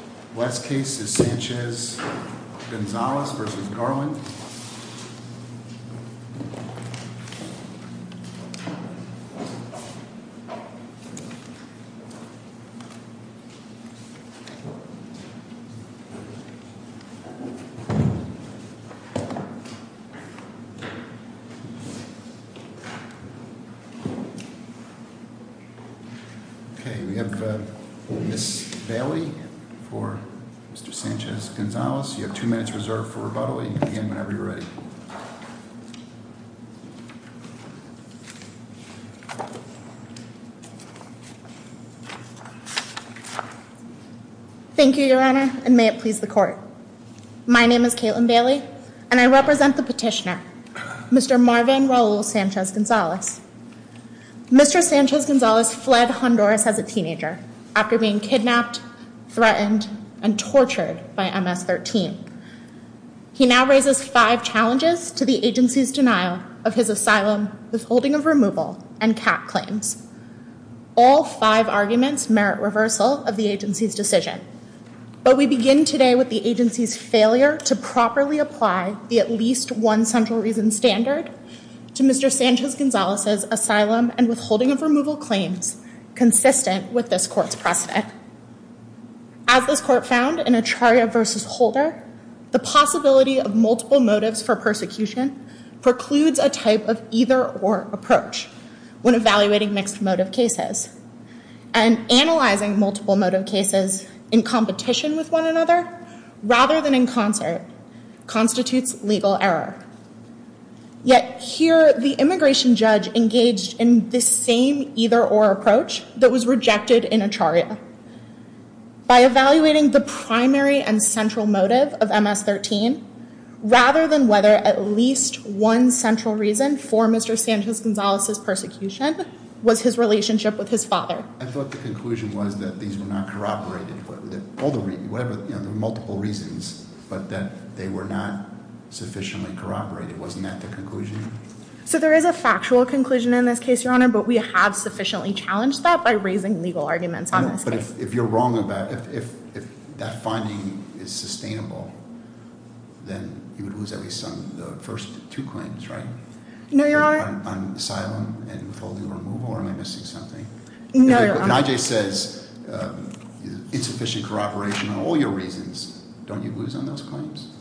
West case is Sanchez-Gonzalez v. Garland. Mr. Sanchez-Gonzalez v. Garland West case is Sanchez-Gonzalez v. Garland West. And I'll call the roll. Thank you, Your Honor. And may it please the court. My name is Caitlin Bailey and I represent the petitioner. Mister Marvin role. Sanchez-Gonzalez. Mister Sanchez-Gonzalez fled Honduras as a teenager. After being kidnapped, threatened and tortured by MS-13. He now raises five challenges to the agency's denial of his asylum, withholding of removal and cat claims. All five arguments merit reversal of the agency's decision. But we begin today with the agency's failure to properly apply the at least one central reason standard to Mr. Sanchez-Gonzalez asylum and withholding of removal claims consistent with this court's precedent. As this court found in a trial versus holder, the possibility of multiple motives for persecution precludes a type of either or approach when evaluating mixed motive cases. And analyzing multiple motive cases in competition with one another rather than in concert constitutes legal error. Yet here, the immigration judge engaged in the same either or approach that was rejected in a trial. By evaluating the primary and central motive of MS-13 rather than whether at least one central reason for Mr. Sanchez-Gonzalez's persecution was his relationship with his father. I thought the conclusion was that these were not corroborated. There were multiple reasons, but that they were not sufficiently corroborated. Wasn't that the conclusion? But we have sufficiently challenged that by raising legal arguments on this case. But if you're wrong about, if that finding is sustainable, then you would lose at least some of the first two claims, right? No, Your Honor. On asylum and withholding of removal, or am I missing something? No, Your Honor. If an I.J. says insufficient corroboration on all your reasons, don't you lose on those claims?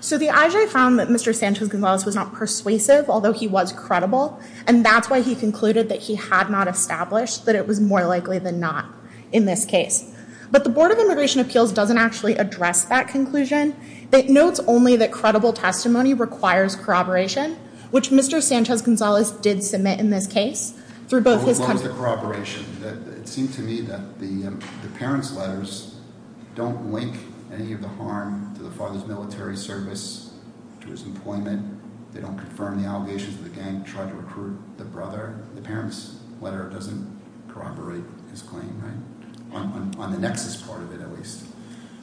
So the I.J. found that Mr. Sanchez-Gonzalez was not persuasive, although he was credible. And that's why he concluded that he had not established that it was more likely than not in this case. But the Board of Immigration Appeals doesn't actually address that conclusion. It notes only that credible testimony requires corroboration, which Mr. Sanchez-Gonzalez did submit in this case through both his- What was the corroboration? It seemed to me that the parents' letters don't link any of the harm to the father's military service, to his employment. They don't confirm the allegations that the gang tried to recruit the brother. The parents' letter doesn't corroborate his claim, right? On the nexus part of it, at least.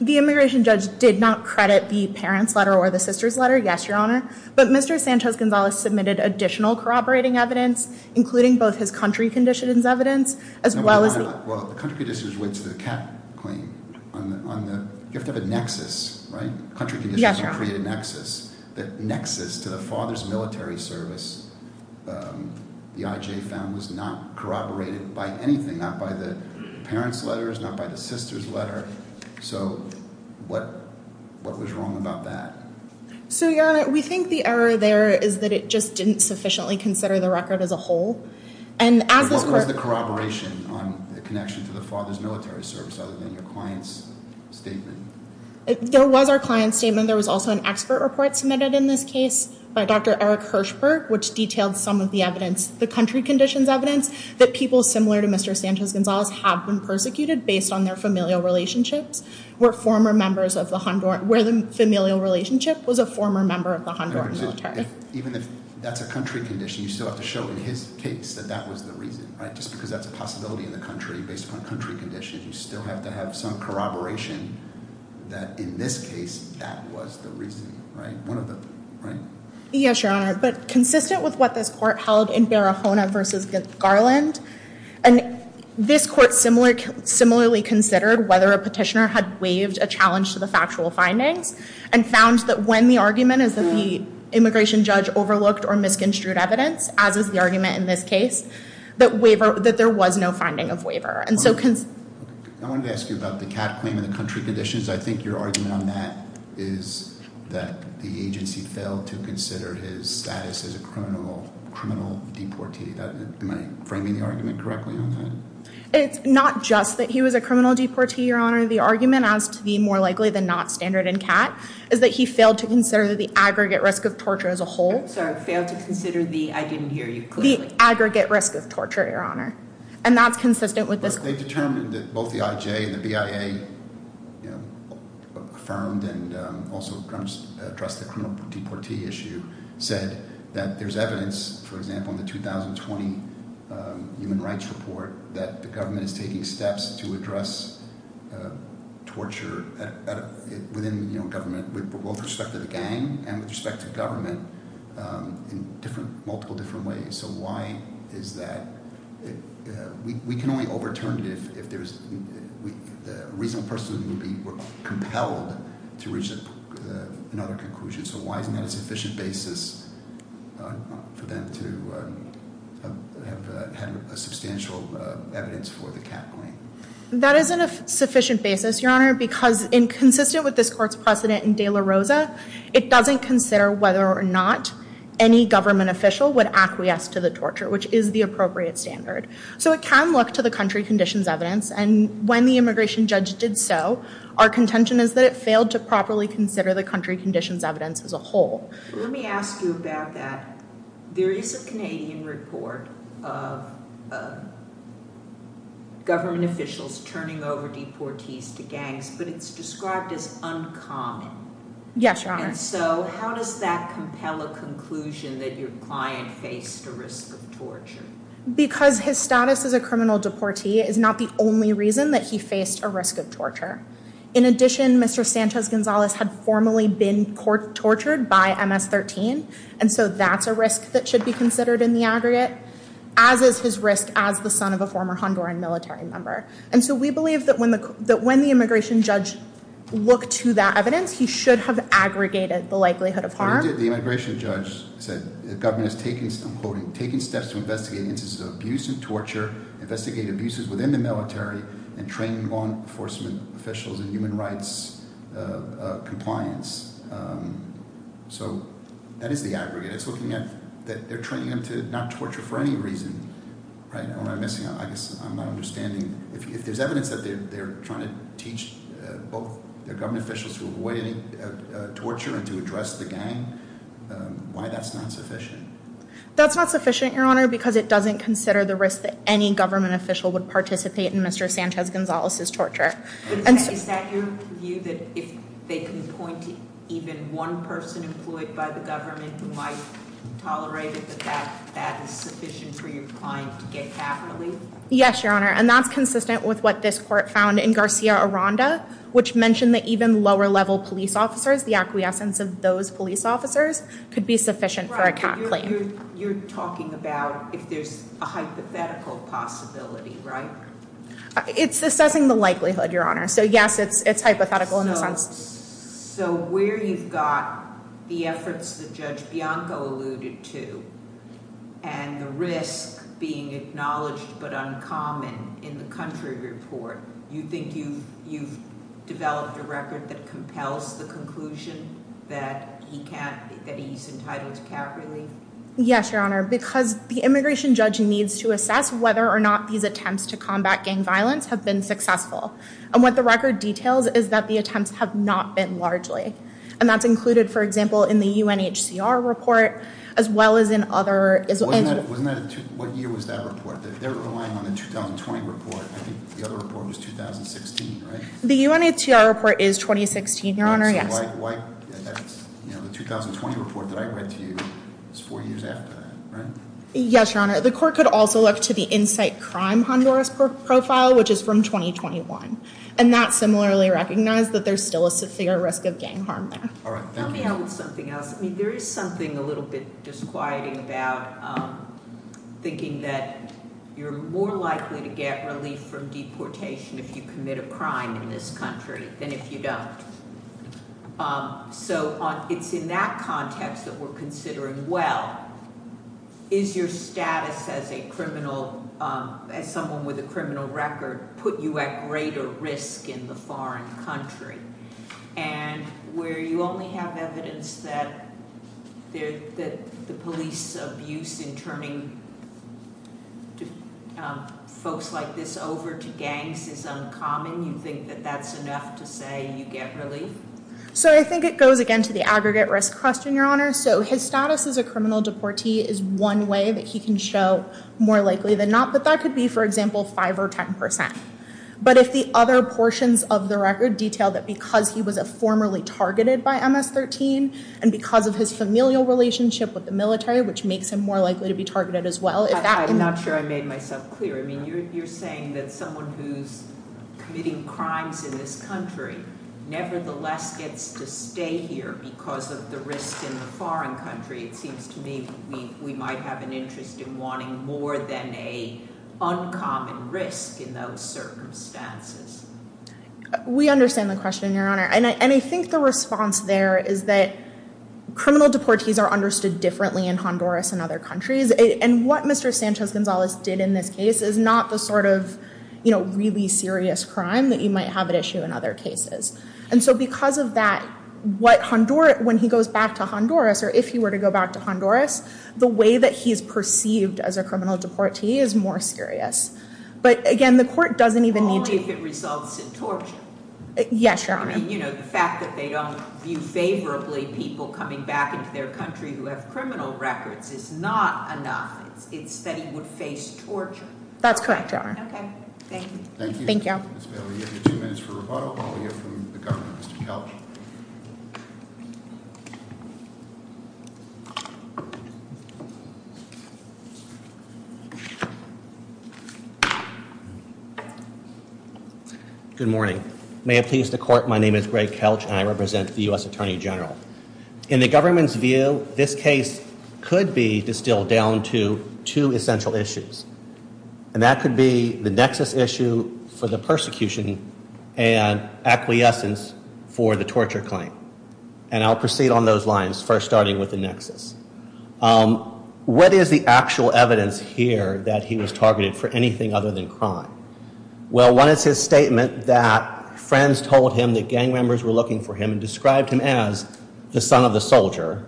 The immigration judge did not credit the parents' letter or the sister's letter, yes, Your Honor. But Mr. Sanchez-Gonzalez submitted additional corroborating evidence, including both his country conditions evidence, as well as- No, Your Honor. Well, the country conditions went to the cat claim. On the, you have to have a nexus, right? Yes, Your Honor. He did not create a nexus. The nexus to the father's military service, the IJ found, was not corroborated by anything, not by the parents' letters, not by the sister's letter. So what was wrong about that? So, Your Honor, we think the error there is that it just didn't sufficiently consider the record as a whole. And as this court- What was the corroboration on the connection to the father's military service other than your client's statement? There was our client's statement. There was also an expert report submitted in this case by Dr. Eric Hirschberg, which detailed some of the evidence. The country conditions evidence that people similar to Mr. Sanchez-Gonzalez have been persecuted based on their familial relationships were former members of the Honduran- where the familial relationship was a former member of the Honduran military. Even if that's a country condition, you still have to show in his case that that was the reason, right? Just because that's a possibility in the country based upon country conditions, you still have to have some corroboration that in this case, that was the reason, right? Yes, Your Honor, but consistent with what this court held in Barahona v. Garland, this court similarly considered whether a petitioner had waived a challenge to the factual findings and found that when the argument is that the immigration judge overlooked or misconstrued evidence, as is the argument in this case, that there was no finding of waiver. I wanted to ask you about the cat claim and the country conditions. I think your argument on that is that the agency failed to consider his status as a criminal deportee. Am I framing the argument correctly on that? It's not just that he was a criminal deportee, Your Honor. The argument as to the more likely than not standard in cat is that he failed to consider the aggregate risk of torture as a whole. Sorry, failed to consider the, I didn't hear you clearly. The aggregate risk of torture, Your Honor, and that's consistent with this court. They determined that both the IJ and the BIA affirmed and also addressed the criminal deportee issue, said that there's evidence, for example, in the 2020 Human Rights Report, that the government is taking steps to address torture within government with both respect to the gang and with respect to government in multiple different ways. So why is that? We can only overturn it if a reasonable person would be compelled to reach another conclusion. So why isn't that a sufficient basis for them to have had a substantial evidence for the cat claim? Your Honor, because in consistent with this court's precedent in De La Rosa, it doesn't consider whether or not any government official would acquiesce to the torture, which is the appropriate standard. So it can look to the country conditions evidence, and when the immigration judge did so, our contention is that it failed to properly consider the country conditions evidence as a whole. Let me ask you about that. There is a Canadian report of government officials turning over deportees to gangs, but it's described as uncommon. Yes, Your Honor. And so how does that compel a conclusion that your client faced a risk of torture? Because his status as a criminal deportee is not the only reason that he faced a risk of torture. In addition, Mr. Sanchez-Gonzalez had formerly been tortured by MS-13, and so that's a risk that should be considered in the aggregate, as is his risk as the son of a former Honduran military member. And so we believe that when the immigration judge looked to that evidence, he should have aggregated the likelihood of harm. The immigration judge said the government is taking steps to investigate instances of abuse and torture, investigate abuses within the military, and train law enforcement officials in human rights compliance. So that is the aggregate. It's looking at that they're training them to not torture for any reason, right? Am I missing out? I guess I'm not understanding. If there's evidence that they're trying to teach both their government officials to avoid any torture and to address the gang, why that's not sufficient? That's not sufficient, Your Honor, because it doesn't consider the risk that any government official would participate in Mr. Sanchez-Gonzalez's torture. Is that your view, that if they can point to even one person employed by the government who might tolerate it, that that is sufficient for your client to get capitally? Yes, Your Honor, and that's consistent with what this court found in Garcia Aranda, which mentioned that even lower-level police officers, the acquiescence of those police officers, could be sufficient for a CAT claim. You're talking about if there's a hypothetical possibility, right? It's assessing the likelihood, Your Honor, so yes, it's hypothetical in a sense. So where you've got the efforts that Judge Bianco alluded to and the risk being acknowledged but uncommon in the country report, you think you've developed a record that compels the conclusion that he's entitled to CAT relief? Yes, Your Honor, because the immigration judge needs to assess whether or not these attempts to combat gang violence have been successful, and what the record details is that the attempts have not been largely, and that's included, for example, in the UNHCR report as well as in other— Wasn't that a—what year was that report? They're relying on the 2020 report. I think the other report was 2016, right? The UNHCR report is 2016, Your Honor, yes. So why—the 2020 report that I read to you is four years after that, right? Yes, Your Honor. The court could also look to the Insight Crime Honduras profile, which is from 2021, and that's similarly recognized that there's still a severe risk of gang harm there. All right. Thank you. Tell me about something else. I mean, there is something a little bit disquieting about thinking that you're more likely to get relief from deportation if you commit a crime in this country than if you don't. So it's in that context that we're considering, well, is your status as a criminal—as someone with a criminal record put you at greater risk in the foreign country? And where you only have evidence that the police abuse in turning folks like this over to gangs is uncommon, you think that that's enough to say you get relief? So I think it goes, again, to the aggregate risk question, Your Honor. So his status as a criminal deportee is one way that he can show more likely than not, but that could be, for example, 5 or 10 percent. But if the other portions of the record detail that because he was formerly targeted by MS-13 and because of his familial relationship with the military, which makes him more likely to be targeted as well, if that— I'm not sure I made myself clear. I mean, you're saying that someone who's committing crimes in this country nevertheless gets to stay here because of the risk in the foreign country. It seems to me we might have an interest in wanting more than an uncommon risk in those circumstances. We understand the question, Your Honor. And I think the response there is that criminal deportees are understood differently in Honduras and other countries. And what Mr. Sanchez-Gonzalez did in this case is not the sort of really serious crime that you might have at issue in other cases. And so because of that, when he goes back to Honduras, or if he were to go back to Honduras, the way that he is perceived as a criminal deportee is more serious. But, again, the court doesn't even need to— Only if it results in torture. Yes, Your Honor. I mean, you know, the fact that they don't view favorably people coming back into their country who have criminal records is not enough. It's that he would face torture. That's correct, Your Honor. Okay. Thank you. Thank you. Thank you, Ms. Bailey. We have two minutes for rebuttal. We'll hear from the Governor, Mr. Kelch. Good morning. May it please the Court, my name is Greg Kelch, and I represent the U.S. Attorney General. In the government's view, this case could be distilled down to two essential issues. And that could be the nexus issue for the persecution and acquiescence for the torture claim. And I'll proceed on those lines, first starting with the nexus. What is the actual evidence here that he was targeted for anything other than crime? Well, one is his statement that friends told him that gang members were looking for him and described him as the son of a soldier.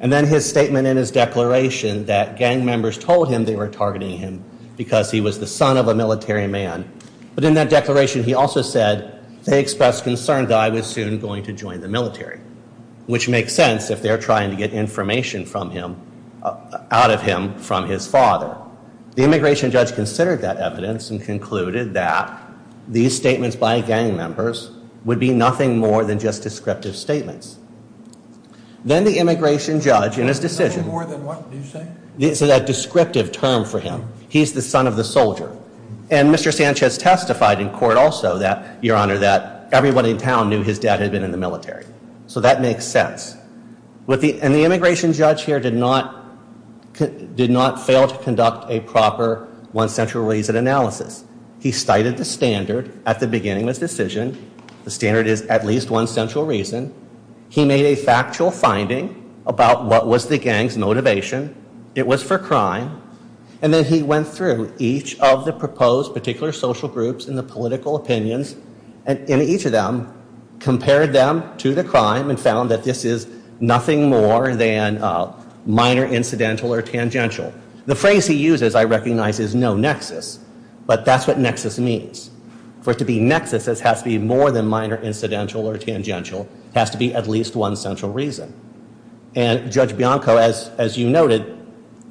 And then his statement in his declaration that gang members told him they were targeting him because he was the son of a military man. But in that declaration, he also said they expressed concern that I was soon going to join the military, which makes sense if they're trying to get information from him, out of him, from his father. The immigration judge considered that evidence and concluded that these statements by gang members would be nothing more than just descriptive statements. Then the immigration judge in his decision... Nothing more than what, did you say? So that descriptive term for him, he's the son of the soldier. And Mr. Sanchez testified in court also that, Your Honor, that everyone in town knew his dad had been in the military. So that makes sense. And the immigration judge here did not fail to conduct a proper one-century reason analysis. He cited the standard at the beginning of his decision. The standard is at least one central reason. He made a factual finding about what was the gang's motivation. It was for crime. And then he went through each of the proposed particular social groups and the political opinions, and in each of them, compared them to the crime and found that this is nothing more than minor incidental or tangential. The phrase he used, as I recognize, is no nexus. But that's what nexus means. For it to be nexus, it has to be more than minor incidental or tangential. It has to be at least one central reason. And Judge Bianco, as you noted,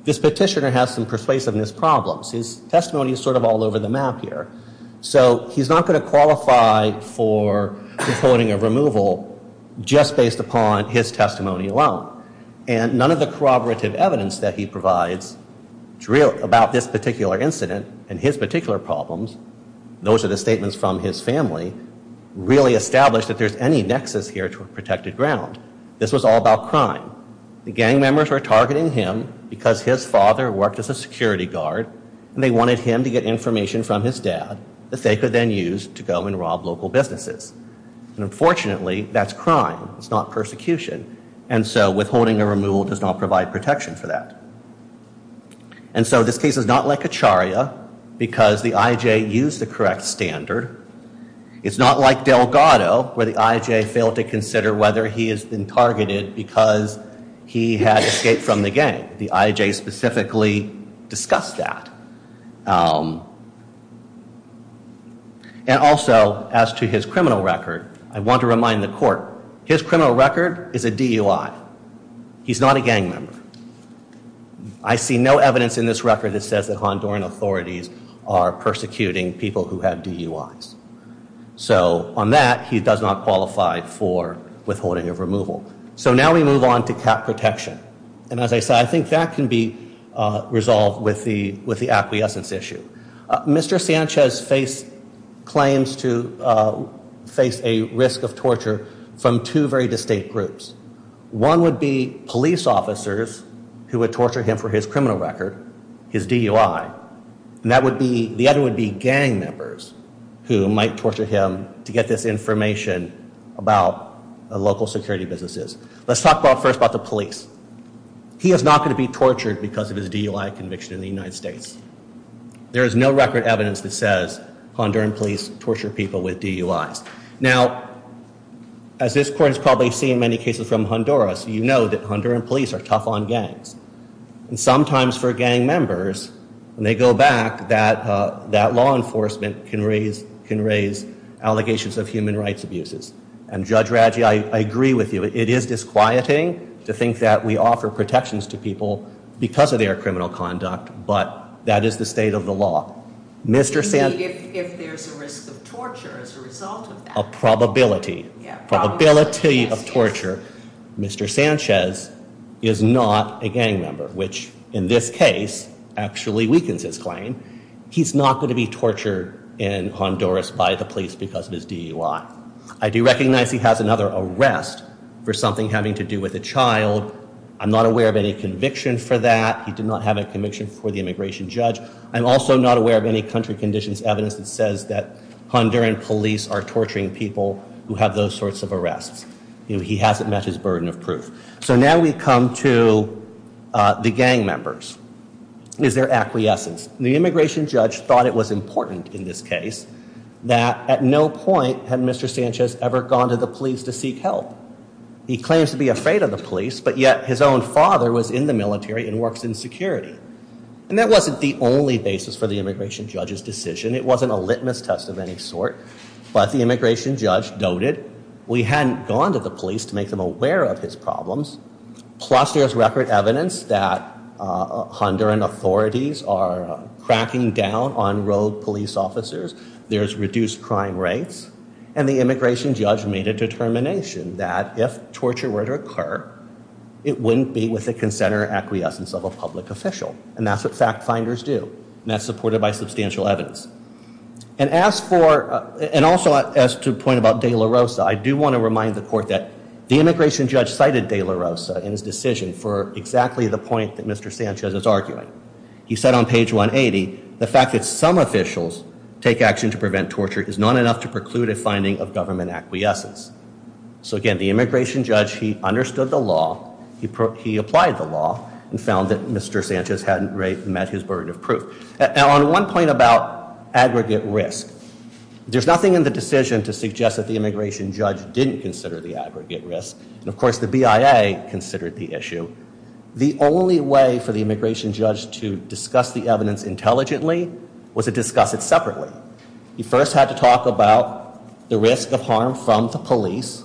this petitioner has some persuasiveness problems. His testimony is sort of all over the map here. So he's not going to qualify for the coding of removal just based upon his testimony alone. And none of the corroborative evidence that he provides about this particular incident and his particular problems, those are the statements from his family, really established that there's any nexus here to a protected ground. This was all about crime. The gang members were targeting him because his father worked as a security guard and they wanted him to get information from his dad that they could then use to go and rob local businesses. And unfortunately, that's crime. It's not persecution. And so withholding a removal does not provide protection for that. And so this case is not like Acharya because the I.J. used the correct standard. It's not like Delgado where the I.J. failed to consider whether he has been targeted because he had escaped from the gang. The I.J. specifically discussed that. And also, as to his criminal record, I want to remind the court, his criminal record is a DUI. He's not a gang member. I see no evidence in this record that says that Honduran authorities are persecuting people who have DUIs. So on that, he does not qualify for withholding of removal. So now we move on to cap protection. And as I said, I think that can be resolved with the acquiescence issue. Mr. Sanchez claims to face a risk of torture from two very distinct groups. One would be police officers who would torture him for his criminal record, his DUI. And the other would be gang members who might torture him to get this information about local security businesses. Let's talk first about the police. He is not going to be tortured because of his DUI conviction in the United States. There is no record evidence that says Honduran police torture people with DUIs. Now, as this court has probably seen in many cases from Honduras, you know that Honduran police are tough on gangs. And sometimes for gang members, when they go back, that law enforcement can raise allegations of human rights abuses. And Judge Radji, I agree with you. It is disquieting to think that we offer protections to people because of their criminal conduct, but that is the state of the law. Indeed, if there's a risk of torture as a result of that. A probability. Yeah, a probability of torture. Mr. Sanchez is not a gang member, which in this case actually weakens his claim. He's not going to be tortured in Honduras by the police because of his DUI. I do recognize he has another arrest for something having to do with a child. I'm not aware of any conviction for that. He did not have a conviction for the immigration judge. I'm also not aware of any country conditions evidence that says that Honduran police are torturing people who have those sorts of arrests. He hasn't met his burden of proof. So now we come to the gang members. Is there acquiescence? The immigration judge thought it was important in this case that at no point had Mr. Sanchez ever gone to the police to seek help. He claims to be afraid of the police, but yet his own father was in the military and works in security. And that wasn't the only basis for the immigration judge's decision. It wasn't a litmus test of any sort. But the immigration judge noted we hadn't gone to the police to make them aware of his problems. Plus there's record evidence that Honduran authorities are cracking down on road police officers. There's reduced crime rates. And the immigration judge made a determination that if torture were to occur, it wouldn't be with the consent or acquiescence of a public official. And that's what fact finders do. And that's supported by substantial evidence. And also as to the point about de la Rosa, I do want to remind the court that the immigration judge cited de la Rosa in his decision for exactly the point that Mr. Sanchez is arguing. He said on page 180, the fact that some officials take action to prevent torture is not enough to preclude a finding of government acquiescence. So again, the immigration judge, he understood the law. He applied the law and found that Mr. Sanchez hadn't met his burden of proof. Now on one point about aggregate risk, there's nothing in the decision to suggest that the immigration judge didn't consider the aggregate risk. And of course the BIA considered the issue. The only way for the immigration judge to discuss the evidence intelligently was to discuss it separately. He first had to talk about the risk of harm from the police.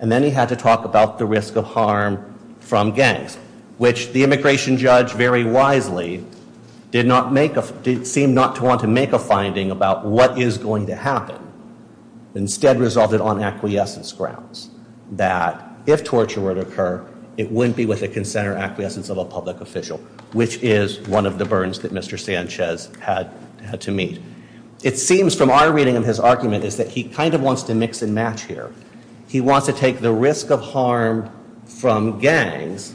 And then he had to talk about the risk of harm from gangs. Which the immigration judge very wisely did not make a, did seem not to want to make a finding about what is going to happen. Instead resolved it on acquiescence grounds. That if torture were to occur, it wouldn't be with a consent or acquiescence of a public official. Which is one of the burdens that Mr. Sanchez had to meet. It seems from our reading of his argument is that he kind of wants to mix and match here. He wants to take the risk of harm from gangs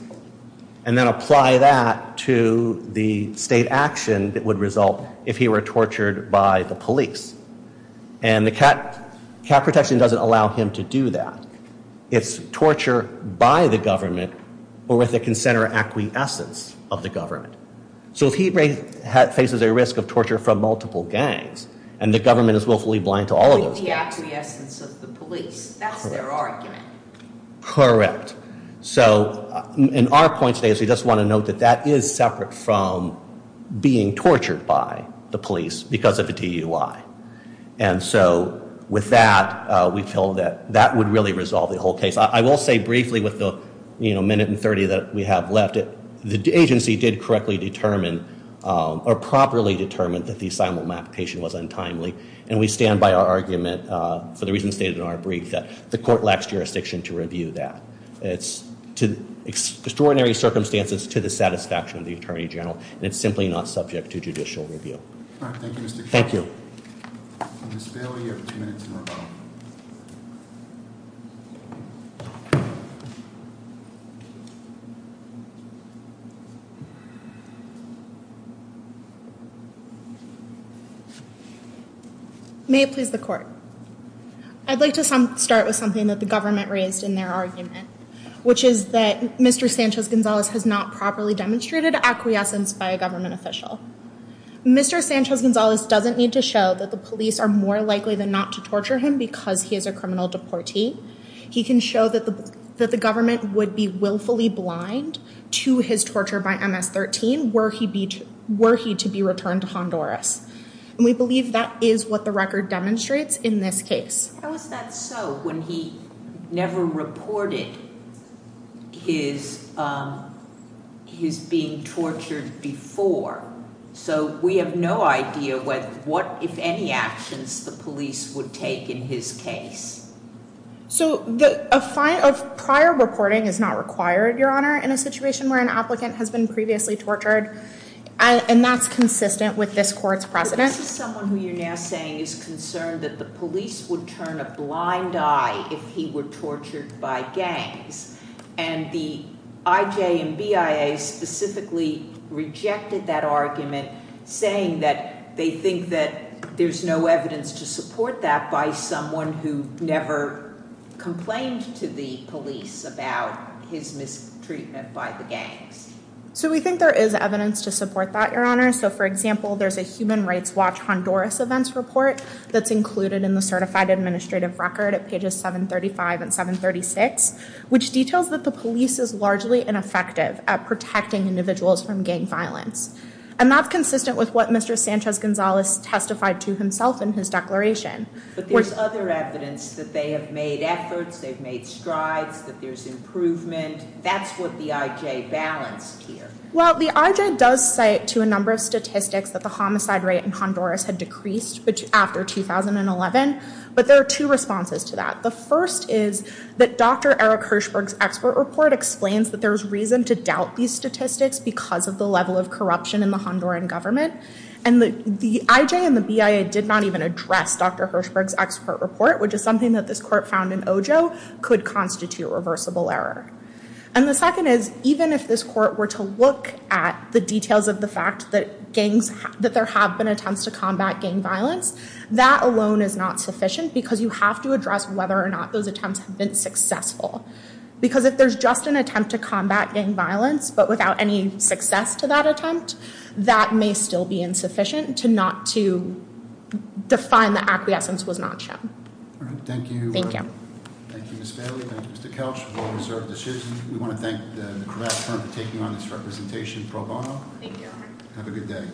and then apply that to the state action that would result if he were tortured by the police. And the cap protection doesn't allow him to do that. It's torture by the government or with a consent or acquiescence of the government. So if he faces a risk of torture from multiple gangs and the government is willfully blind to all of those gangs. The acquiescence of the police, that's their argument. Correct. So in our point today is we just want to note that that is separate from being tortured by the police because of a DUI. And so with that, we feel that that would really resolve the whole case. I will say briefly with the minute and 30 that we have left. The agency did correctly determine or properly determine that the asylum application was untimely. And we stand by our argument for the reasons stated in our brief that the court lacks jurisdiction to review that. It's extraordinary circumstances to the satisfaction of the attorney general. And it's simply not subject to judicial review. Thank you. Thank you. Miss Bailey, you have two minutes. May it please the court. I'd like to start with something that the government raised in their argument, which is that Mr. Sanchez Gonzalez has not properly demonstrated acquiescence by a government official. Mr. Sanchez Gonzalez doesn't need to show that the police are more likely than not to torture him because he is a criminal deportee. He can show that the that the government would be willfully blind to his torture by MS-13. Were he beach, were he to be returned to Honduras? And we believe that is what the record demonstrates in this case. How is that so when he never reported his his being tortured before? So we have no idea what if any actions the police would take in his case. So the prior reporting is not required, Your Honor, in a situation where an applicant has been previously tortured. And that's consistent with this court's precedent. Someone who you're now saying is concerned that the police would turn a blind eye if he were tortured by gangs. And the IJ and BIA specifically rejected that argument, saying that they think that there's no evidence to support that by someone who never complained to the police about his mistreatment by the gangs. So we think there is evidence to support that, Your Honor. So, for example, there's a Human Rights Watch Honduras events report that's included in the certified administrative record at pages 735 and 736. Which details that the police is largely ineffective at protecting individuals from gang violence. And that's consistent with what Mr. Sanchez-Gonzalez testified to himself in his declaration. But there's other evidence that they have made efforts, they've made strides, that there's improvement. That's what the IJ balanced here. Well, the IJ does cite to a number of statistics that the homicide rate in Honduras had decreased after 2011. But there are two responses to that. The first is that Dr. Eric Hirshberg's expert report explains that there's reason to doubt these statistics because of the level of corruption in the Honduran government. And the IJ and the BIA did not even address Dr. Hirshberg's expert report. Which is something that this court found in Ojo could constitute reversible error. And the second is, even if this court were to look at the details of the fact that there have been attempts to combat gang violence. That alone is not sufficient because you have to address whether or not those attempts have been successful. Because if there's just an attempt to combat gang violence, but without any success to that attempt. That may still be insufficient to not to define the acquiescence was not shown. All right, thank you. Thank you. Thank you, Ms. Bailey. Thank you, Mr. Couch. We'll reserve the shoes. We want to thank the Cravat firm for taking on this representation pro bono. Thank you. Have a good day.